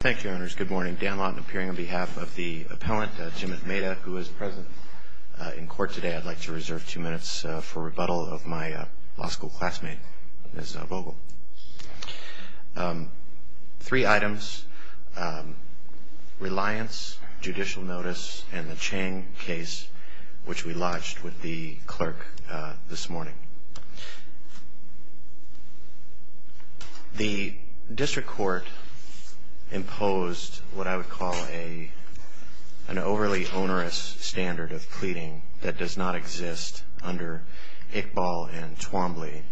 Thank you, Your Honors. Good morning. Dan Lott appearing on behalf of the appellant, Jimit Mehta, who is present in court today. I'd like to reserve two minutes for rebuttal of my law school classmate, Ms. Vogel. Three items, reliance, judicial notice, and the Chang case, which we lodged with the clerk this morning. The district court imposed what I would call an overly onerous standard of pleading that does not exist under Iqbal and Twombly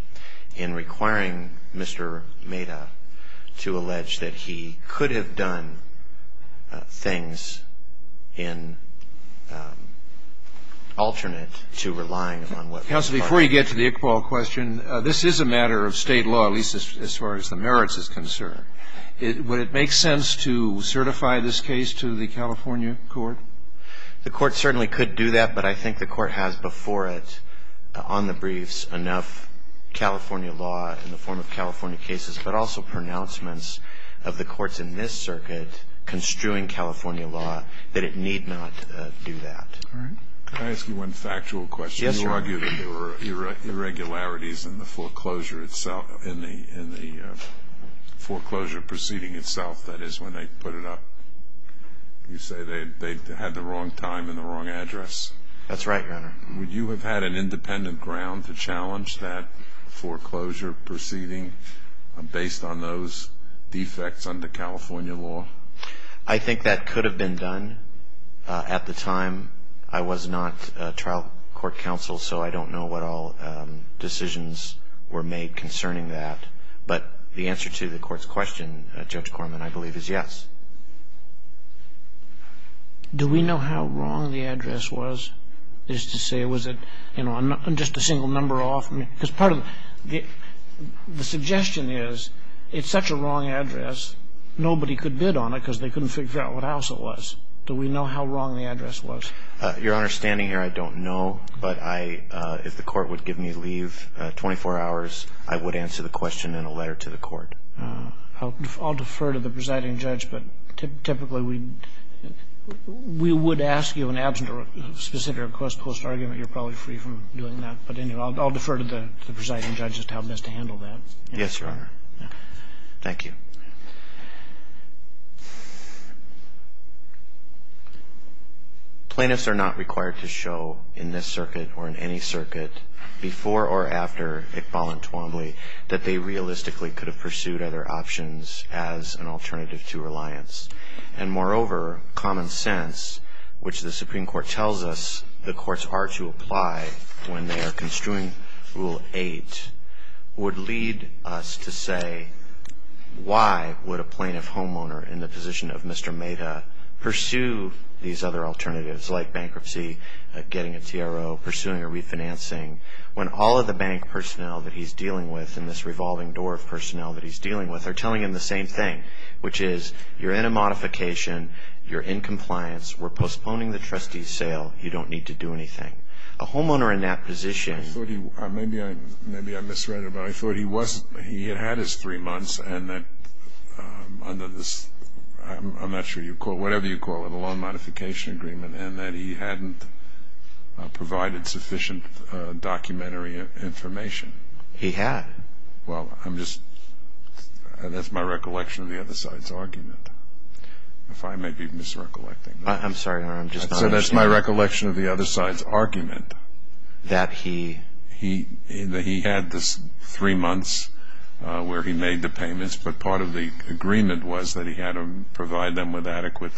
in requiring Mr. Mehta to allege that he could have done things in alternate to relying upon what was filed. And I would like to reserve two minutes for rebuttal of my law school classmate, Jimit Mehta, who is present in court today. I'd like to reserve two minutes for rebuttal of my law school classmate, Jimit Mehta, who is present in court today. Can I ask you one factual question? Yes, Your Honor. You argue that there were irregularities in the foreclosure proceeding itself, that is, when they put it up. You say they had the wrong time and the wrong address? That's right, Your Honor. Would you have had an independent ground to challenge that foreclosure proceeding based on those defects under California law? I think that could have been done at the time. I was not trial court counsel, so I don't know what all decisions were made concerning that. But the answer to the court's question, Judge Corman, I believe is yes. Do we know how wrong the address was? Is to say, was it, you know, just a single number off? Because part of the suggestion is it's such a wrong address, nobody could bid on it because they couldn't figure out what house it was. Do we know how wrong the address was? Your Honor, standing here, I don't know. But I, if the court would give me leave, 24 hours, I would answer the question in a letter to the court. I'll defer to the presiding judge. But typically we would ask you in absent of a specific request post-argument. You're probably free from doing that. But anyway, I'll defer to the presiding judge to help us to handle that. Yes, Your Honor. Thank you. Plaintiffs are not required to show in this circuit or in any circuit before or after Iqbal and Twombly that they realistically could have pursued other options as an alternative to reliance. And moreover, common sense, which the Supreme Court tells us the courts are to apply when they are construing Rule 8, would lead us to say, why would a plaintiff homeowner in the position of Mr. Maida pursue these other alternatives like bankruptcy, getting a TRO, pursuing a refinancing, when all of the bank personnel that he's dealing with and this revolving door of personnel that he's dealing with are telling him the same thing, which is you're in a modification, you're in compliance, we're postponing the trustee's sale, you don't need to do anything. A homeowner in that position... Maybe I misread it, but I thought he had had his three months and that under this, I'm not sure you call it, whatever you call it, a loan modification agreement and that he hadn't provided sufficient documentary information. He had. Well, I'm just, that's my recollection of the other side's argument. If I may be misrecollecting. I'm sorry, Your Honor, I'm just not understanding. I said that's my recollection of the other side's argument. That he... That he had this three months where he made the payments, but part of the agreement was that he had to provide them with adequate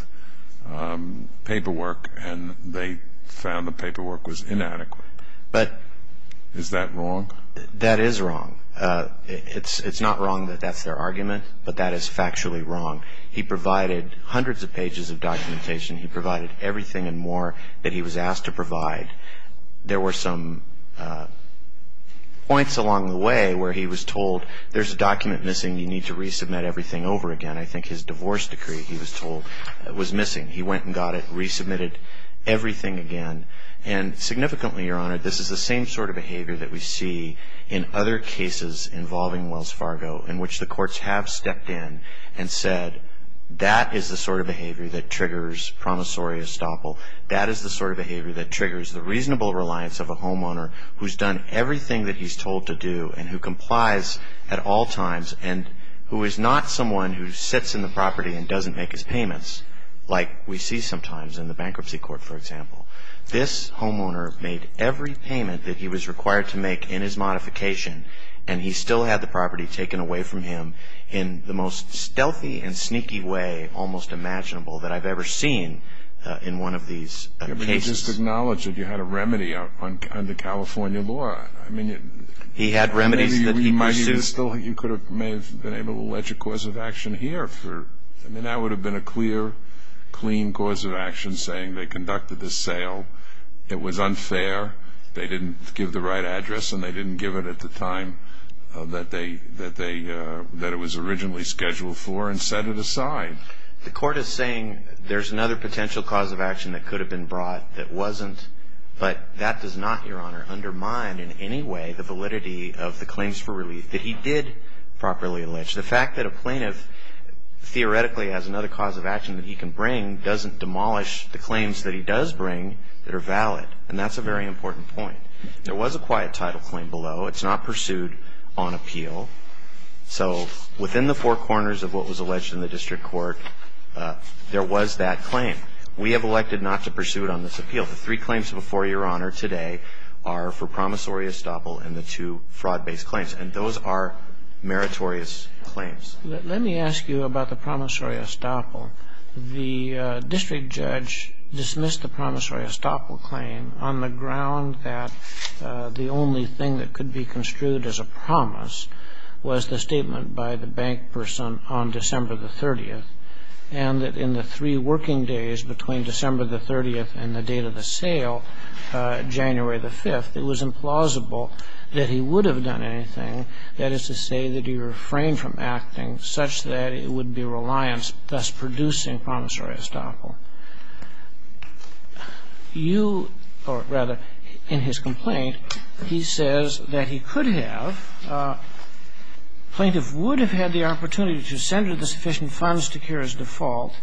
paperwork and they found the paperwork was inadequate. But... Is that wrong? That is wrong. It's not wrong that that's their argument, but that is factually wrong. He provided hundreds of pages of documentation. He provided everything and more that he was asked to provide. There were some points along the way where he was told there's a document missing, you need to resubmit everything over again. I think his divorce decree, he was told, was missing. He went and got it, resubmitted everything again. And significantly, Your Honor, this is the same sort of behavior that we see in other cases involving Wells Fargo in which the courts have stepped in and said that is the sort of behavior that triggers promissory estoppel. That is the sort of behavior that triggers the reasonable reliance of a homeowner who's done everything that he's told to do and who complies at all times and who is not someone who sits in the property and doesn't make his payments like we see sometimes in the bankruptcy court, for example. This homeowner made every payment that he was required to make in his modification, and he still had the property taken away from him in the most stealthy and sneaky way almost imaginable that I've ever seen in one of these cases. Yeah, but you just acknowledged that you had a remedy under California law. I mean... He had remedies that he pursued. But it's still like you may have been able to allege a cause of action here. I mean, that would have been a clear, clean cause of action saying they conducted this sale, it was unfair, they didn't give the right address, and they didn't give it at the time that it was originally scheduled for and set it aside. The court is saying there's another potential cause of action that could have been brought that wasn't, but that does not, Your Honor, undermine in any way the validity of the claims for relief that he did properly allege. The fact that a plaintiff theoretically has another cause of action that he can bring doesn't demolish the claims that he does bring that are valid, and that's a very important point. There was a quiet title claim below. It's not pursued on appeal. So within the four corners of what was alleged in the district court, there was that claim. We have elected not to pursue it on this appeal. The three claims before Your Honor today are for promissory estoppel and the two fraud-based claims. And those are meritorious claims. Let me ask you about the promissory estoppel. The district judge dismissed the promissory estoppel claim on the ground that the only thing that could be construed as a promise was the statement by the bank person on December the 30th, and that in the three working days between December the 30th and the date of the sale, January the 5th, it was implausible that he would have done anything. That is to say that he refrained from acting such that it would be reliance, thus producing promissory estoppel. You, or rather in his complaint, he says that he could have, plaintiff would have had the opportunity to send her the sufficient funds to cure his default.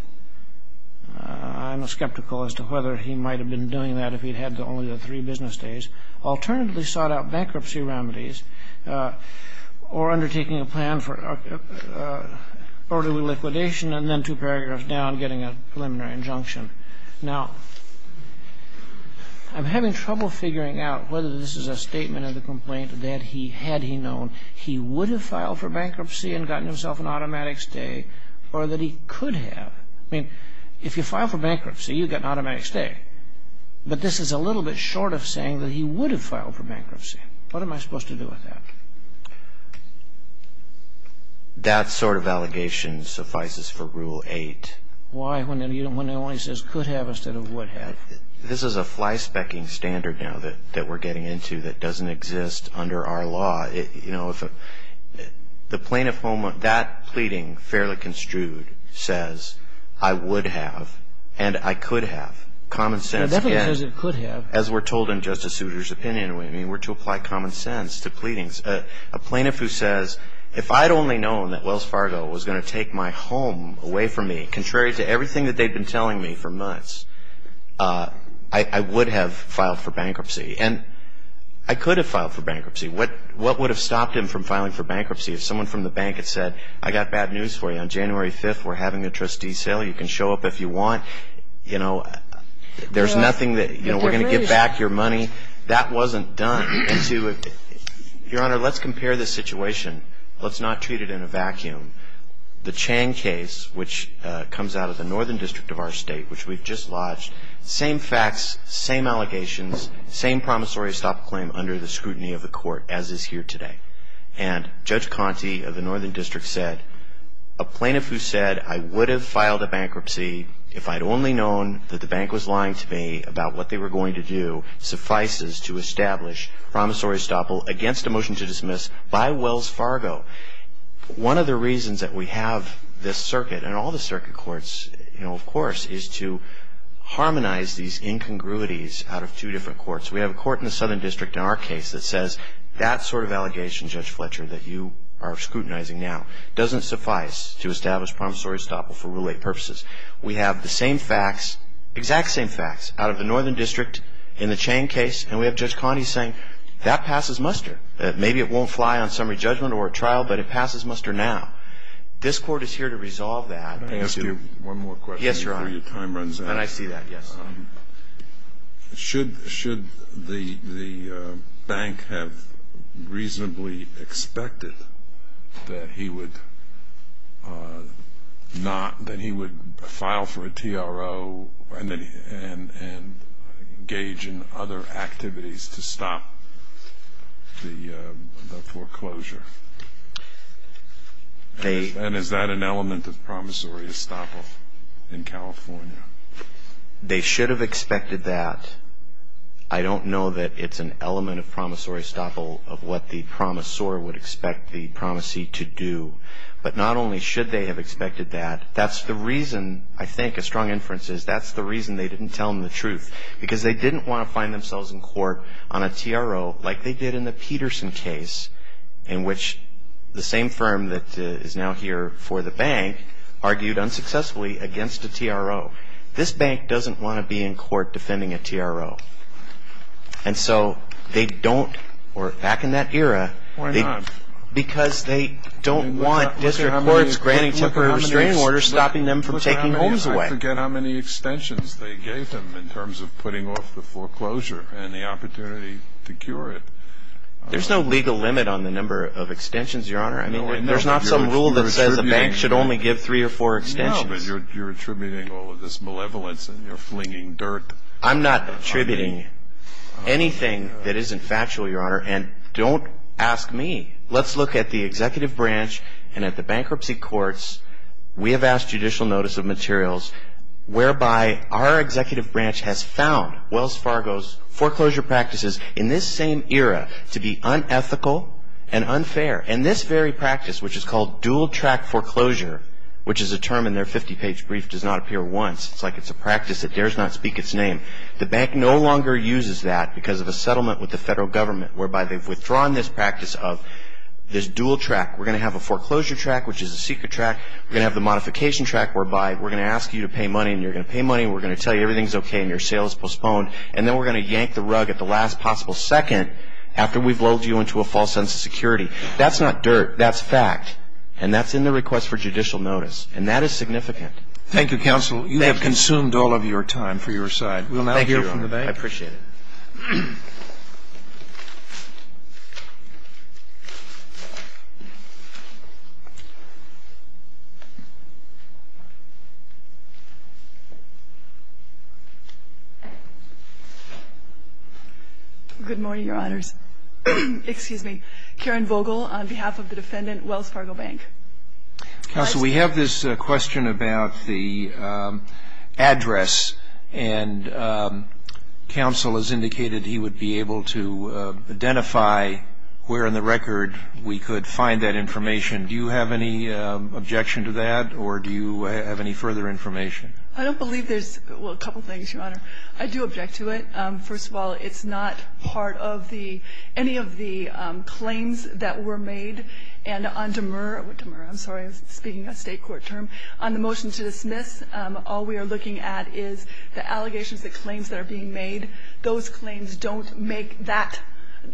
I'm skeptical as to whether he might have been doing that if he'd had only the three business days. Alternatively, sought out bankruptcy remedies or undertaking a plan for orderly liquidation and then two paragraphs down getting a preliminary injunction. Now, I'm having trouble figuring out whether this is a statement in the complaint that he, had he known he would have filed for bankruptcy and gotten himself an automatic stay or that he could have. I mean, if you file for bankruptcy, you get an automatic stay. But this is a little bit short of saying that he would have filed for bankruptcy. What am I supposed to do with that? That sort of allegation suffices for Rule 8. Why, when it only says could have instead of would have? This is a fly-specking standard now that we're getting into that doesn't exist under our law. You know, the plaintiff, that pleading, fairly construed, says, I would have and I could have. Common sense. As we're told in Justice Souter's opinion, we're to apply common sense to pleadings. A plaintiff who says, if I'd only known that Wells Fargo was going to take my home away from me, I would have filed for bankruptcy. And I could have filed for bankruptcy. What would have stopped him from filing for bankruptcy if someone from the bank had said, I got bad news for you, on January 5th we're having a trustee sale. You can show up if you want. You know, there's nothing that, you know, we're going to give back your money. That wasn't done. Your Honor, let's compare this situation. Let's not treat it in a vacuum. The Chang case, which comes out of the Northern District of our state, which we've just lodged, same facts, same allegations, same promissory stop claim under the scrutiny of the court, as is here today. And Judge Conte of the Northern District said, a plaintiff who said, I would have filed a bankruptcy if I'd only known that the bank was lying to me about what they were going to do, suffices to establish promissory stop against a motion to dismiss by Wells Fargo. One of the reasons that we have this circuit, and all the circuit courts, you know, of course, is to harmonize these incongruities out of two different courts. We have a court in the Southern District in our case that says, that sort of allegation, Judge Fletcher, that you are scrutinizing now, doesn't suffice to establish promissory stop for Rule 8 purposes. We have the same facts, exact same facts, out of the Northern District in the Chang case, and we have Judge Conte saying, that passes muster. Maybe it won't fly on summary judgment or trial, but it passes muster now. This court is here to resolve that. Can I ask you one more question before your time runs out? Yes, Your Honor. And I see that, yes. Should the bank have reasonably expected that he would not, that he would file for a TRO and engage in other activities to stop the foreclosure? And is that an element of promissory estoppel in California? They should have expected that. I don't know that it's an element of promissory estoppel of what the promissor would expect the promisee to do. But not only should they have expected that, that's the reason, I think, a strong inference is, that's the reason they didn't tell him the truth, because they didn't want to find themselves in court on a TRO like they did in the Peterson case, in which the same firm that is now here for the bank argued unsuccessfully against a TRO. This bank doesn't want to be in court defending a TRO. And so they don't, or back in that era, because they don't want district courts granting temporary restraining orders, stopping them from taking homes away. I forget how many extensions they gave him in terms of putting off the foreclosure and the opportunity to cure it. There's no legal limit on the number of extensions, Your Honor. I mean, there's not some rule that says a bank should only give three or four extensions. No, but you're attributing all of this malevolence and you're flinging dirt. I'm not attributing anything that isn't factual, Your Honor, and don't ask me. Let's look at the executive branch and at the bankruptcy courts. We have asked judicial notice of materials whereby our executive branch has found Wells Fargo's foreclosure practices in this same era to be unethical and unfair. And this very practice, which is called dual-track foreclosure, which is a term in their 50-page brief, does not appear once. It's like it's a practice that dares not speak its name. The bank no longer uses that because of a settlement with the federal government whereby they've withdrawn this practice of this dual-track. We're going to have a foreclosure track, which is a secret track. We're going to have the modification track whereby we're going to ask you to pay money, and you're going to pay money, and we're going to tell you everything's okay and your sale is postponed, and then we're going to yank the rug at the last possible second after we've lulled you into a false sense of security. That's not dirt. That's fact, and that's in the request for judicial notice, and that is significant. Thank you, Counsel. You have consumed all of your time for your side. We'll now hear from the bank. Thank you. I appreciate it. Good morning, Your Honors. Excuse me. Karen Vogel on behalf of the defendant, Wells Fargo Bank. Counsel, we have this question about the address, and counsel has indicated he would be able to identify where in the record we could find that information. Do you have any objection to that, or do you have any further information? I don't believe there's – well, a couple things, Your Honor. I do object to it. First of all, it's not part of the – any of the claims that were made, and on Demurr – Demurr, I'm sorry, I'm speaking a State court term – on the motion to dismiss, all we are looking at is the allegations, the claims that are being made. Those claims don't make that –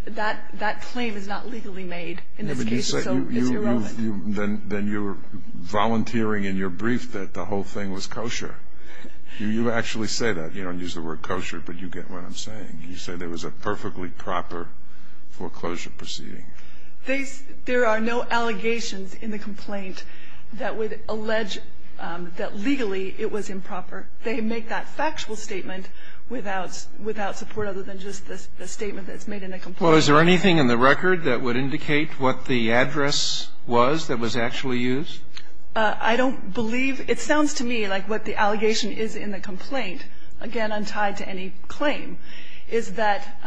that claim is not legally made in this case, so it's irrelevant. Then you're volunteering in your brief that the whole thing was kosher. You actually say that. You don't use the word kosher, but you get what I'm saying. You say there was a perfectly proper foreclosure proceeding. They – there are no allegations in the complaint that would allege that legally it was improper. They make that factual statement without – without support other than just the statement that's made in the complaint. Well, is there anything in the record that would indicate what the address was that was actually used? I don't believe – it sounds to me like what the allegation is in the complaint, again, untied to any claim, is that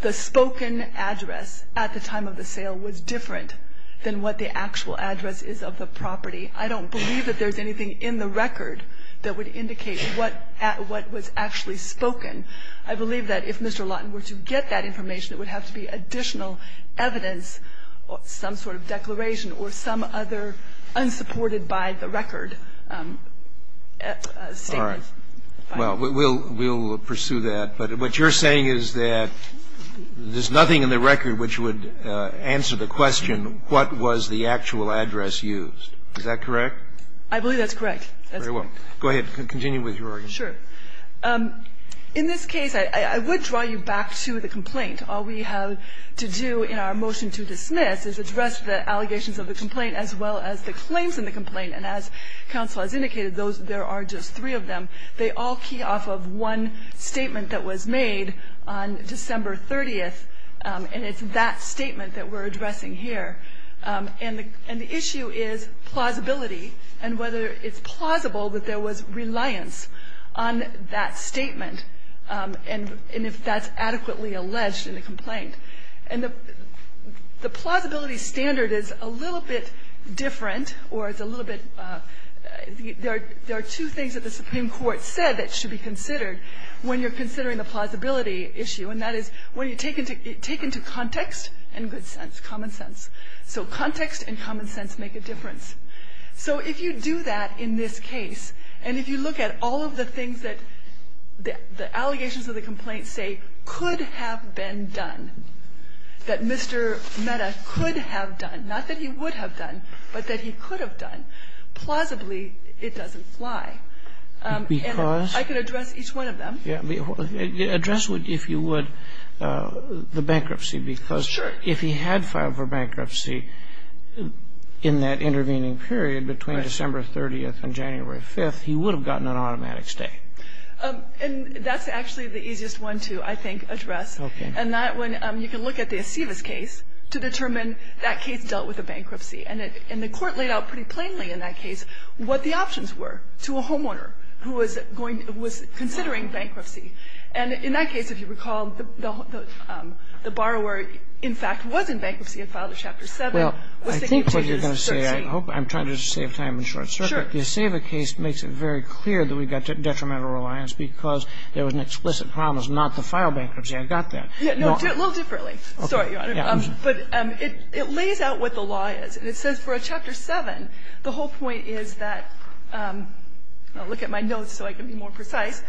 the spoken address at the time of the sale was different than what the actual address is of the property. I don't believe that there's anything in the record that would indicate what – what was actually spoken. I believe that if Mr. Lawton were to get that information, it would have to be additional evidence, some sort of declaration, or some other unsupported by the record statement. Well, we'll – we'll pursue that. But what you're saying is that there's nothing in the record which would answer the question what was the actual address used. Is that correct? I believe that's correct. That's correct. Very well. Go ahead. Continue with your argument. Sure. In this case, I would draw you back to the complaint. All we have to do in our motion to dismiss is address the allegations of the complaint as well as the claims in the complaint. And as counsel has indicated, those – there are just three of them. They all key off of one statement that was made on December 30th, and it's that statement that we're addressing here. And the issue is plausibility and whether it's plausible that there was reliance on that statement and if that's adequately alleged in the complaint. And the plausibility standard is a little bit different, or it's a little bit – there are two things that the Supreme Court said that should be considered when you're considering the plausibility issue, and that is when you take into context and good sense, common sense. So context and common sense make a difference. So if you do that in this case, and if you look at all of the things that the allegations of the complaint say could have been done, that Mr. Mehta could have done, not that he would have done, but that he could have done, plausibly, it doesn't fly. And I could address each one of them. Because – yeah, address, if you would, the bankruptcy. Because if he had filed for bankruptcy in that intervening period between December 30th and January 5th, he would have gotten an automatic stay. And that's actually the easiest one to, I think, address. Okay. And that one, you can look at the Aceves case to determine that case dealt with a bankruptcy. And the Court laid out pretty plainly in that case what the options were to a homeowner who was going – who was considering bankruptcy. And in that case, if you recall, the borrower, in fact, was in bankruptcy and filed a Chapter 7. Well, I think what you're going to say – I hope I'm trying to save time and short circuit. Sure. The Aceves case makes it very clear that we've got detrimental reliance because there was an explicit promise not to file bankruptcy. I got that. No, a little differently. Sorry, Your Honor. But it lays out what the law is. And it says for a Chapter 7, the whole point is that – I'll look at my notes so I can be more precise.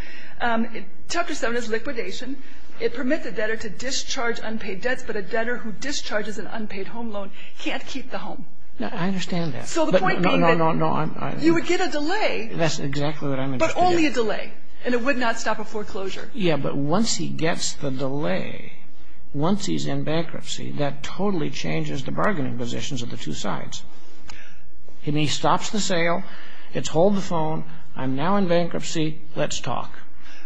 Chapter 7 is liquidation. It permits the debtor to discharge unpaid debts, but a debtor who discharges an unpaid home loan can't keep the home. I understand that. So the point being that – No, no, no. You would get a delay. That's exactly what I'm – But only a delay. And it would not stop a foreclosure. Yeah, but once he gets the delay, once he's in bankruptcy, that totally changes the bargaining positions of the two sides. He stops the sale, it's hold the phone, I'm now in bankruptcy, let's talk.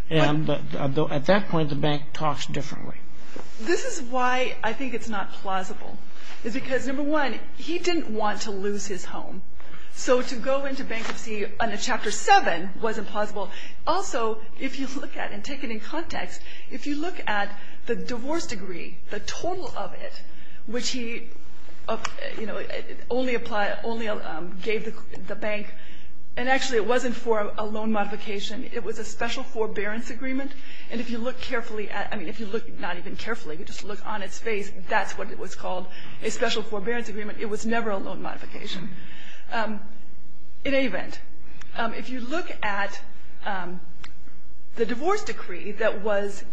But at that point, the bank talks differently. This is why I think it's not plausible, is because, number one, he didn't want to lose his home. So to go into bankruptcy under Chapter 7 wasn't plausible. Also, if you look at it and take it in context, if you look at the divorce degree, the total of it, which he only applied – only gave the bank – and actually, it wasn't for a loan modification. It was a special forbearance agreement. And if you look carefully at – I mean, if you look not even carefully, if you just look on its face, that's what it was called, a special forbearance agreement. It was never a loan modification. In any event, if you look at the divorce decree that was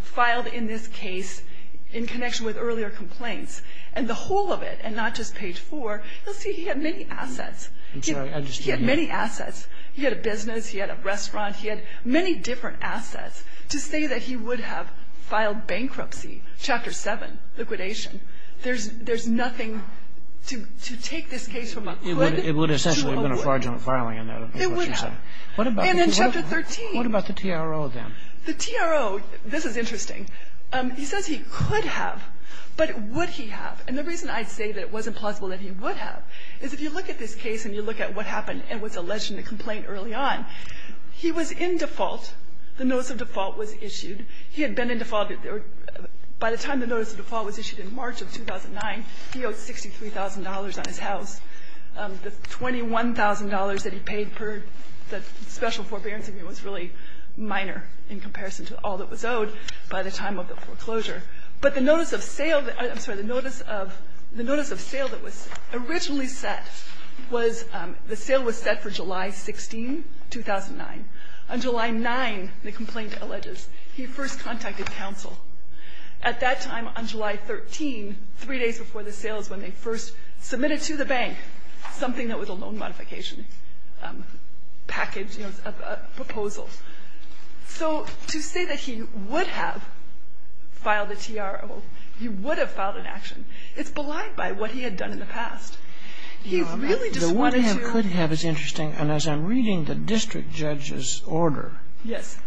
filed in this case in connection with earlier complaints, and the whole of it, and not just page 4, you'll see he had many assets. He had many assets. He had a business, he had a restaurant, he had many different assets to say that he would have filed bankruptcy, Chapter 7, liquidation. There's nothing to take this case from a could to a would. It would have essentially been a fraudulent filing in that. It would have. And in Chapter 13. What about the TRO, then? The TRO, this is interesting. He says he could have, but would he have? And the reason I say that it wasn't plausible that he would have is if you look at this case and you look at what happened and what's alleged in the complaint early on, he was in default. The notice of default was issued. He had been in default. By the time the notice of default was issued in March of 2009, he owed $63,000 on his house. The $21,000 that he paid per the special forbearance agreement was really minor in comparison to all that was owed by the time of the foreclosure. But the notice of sale, I'm sorry, the notice of sale that was originally set was, the sale was set for July 16, 2009. On July 9, the complaint alleges, he first contacted counsel. At that time, on July 13, three days before the sales, when they first submitted to the bank something that was a loan modification package, you know, a proposal. So to say that he would have filed a TRO, he would have filed an action, it's belied by what he had done in the past. He really just wanted to do the TRO. Yes.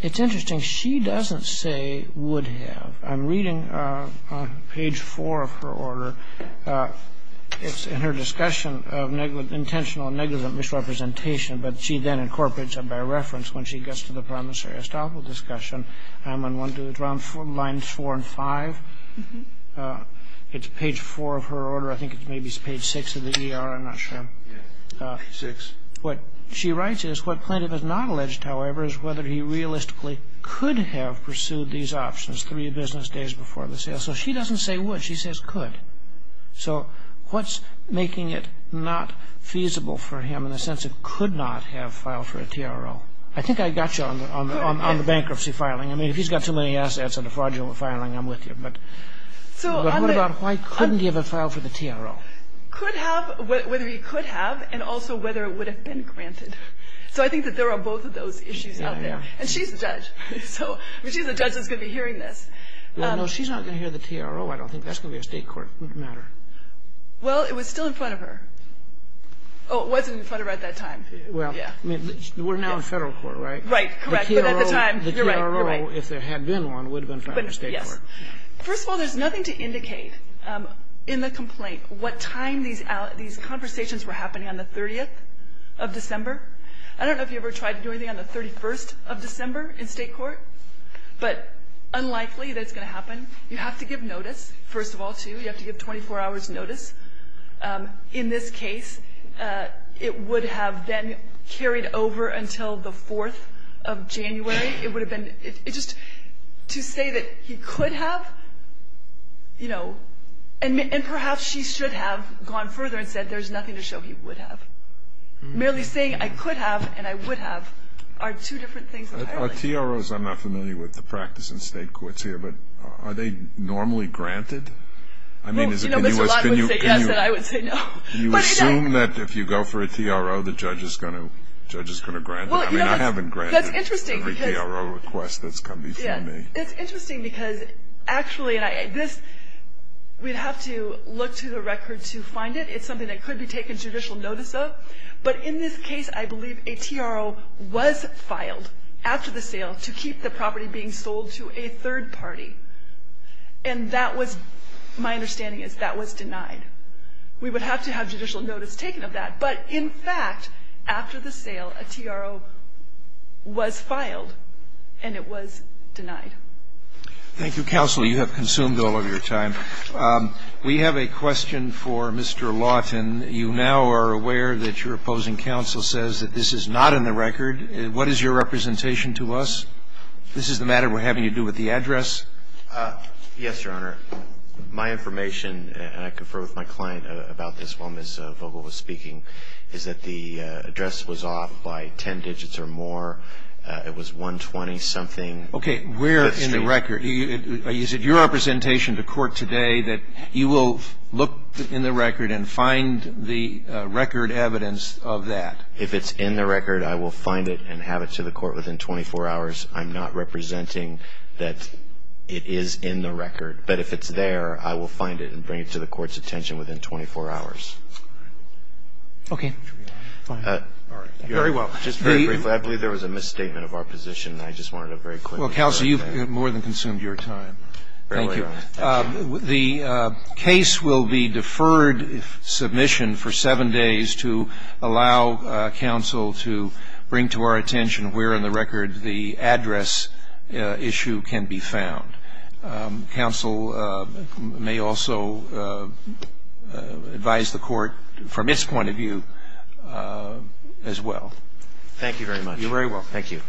It's interesting. She doesn't say would have. I'm reading page 4 of her order. It's in her discussion of intentional and negligent misrepresentation. But she then incorporates it by reference when she gets to the promissory estoppel discussion. I'm on lines 4 and 5. It's page 4 of her order. I think it's maybe page 6 of the ER. I'm not sure. Page 6. What she writes is, what plaintiff has not alleged, however, is whether he realistically could have pursued these options three business days before the sales. So she doesn't say would. She says could. So what's making it not feasible for him in the sense it could not have filed for a TRO? I think I got you on the bankruptcy filing. I mean, if he's got too many assets and a fraudulent filing, I'm with you. But what about why couldn't he have filed for the TRO? Could have, whether he could have, and also whether it would have been granted. So I think that there are both of those issues out there. And she's a judge. So she's a judge that's going to be hearing this. No, she's not going to hear the TRO. I don't think that's going to be a state court matter. Well, it was still in front of her. Oh, it wasn't in front of her at that time. Well, I mean, we're now in federal court, right? Right, correct. But at the time, you're right. The TRO, if there had been one, would have been in front of the state court. Yes. First of all, there's nothing to indicate in the complaint what time these conversations were happening on the 30th of December. I don't know if you ever tried to do anything on the 31st of December in state court, but unlikely that it's going to happen. You have to give notice, first of all, too. You have to give 24 hours notice. In this case, it would have been carried over until the 4th of January. It would have been, it just, to say that he could have, you know, and perhaps she should have gone further and said there's nothing to show he would have. Merely saying I could have and I would have are two different things entirely. Are TROs, I'm not familiar with the practice in state courts here, but are they normally granted? I mean, is it, can you, can you, can you assume that if you go for a TRO, the judge is going to, judge is going to grant it? I mean, I haven't granted every TRO request that's come before me. It's interesting because actually, this, we'd have to look to the record to find it. It's something that could be taken judicial notice of. But in this case, I believe a TRO was filed after the sale to keep the property being sold to a third party. And that was, my understanding is that was denied. We would have to have judicial notice taken of that. But in fact, after the sale, a TRO was filed and it was denied. Thank you, Counsel. You have consumed all of your time. We have a question for Mr. Lawton. You now are aware that your opposing counsel says that this is not in the record. What is your representation to us? This is the matter we're having to do with the address. Yes, Your Honor. My information, and I confer with my client about this while Ms. Vogel was speaking, is that the address was off by 10 digits or more. It was 120-something. Okay. Where in the record? Is it your representation to court today that you will look in the record and find the record evidence of that? If it's in the record, I will find it and have it to the court within 24 hours. I'm not representing that it is in the record. But if it's there, I will find it and bring it to the court's attention within 24 hours. Okay. Very well. Just very briefly, I believe there was a misstatement of our position, and I just wanted to very quickly clarify that. Counsel, you've more than consumed your time. Thank you. The case will be deferred submission for seven days to allow counsel to bring to our attention where in the record the address issue can be found. Counsel may also advise the court from its point of view as well. Thank you very much. You're very welcome. Thank you.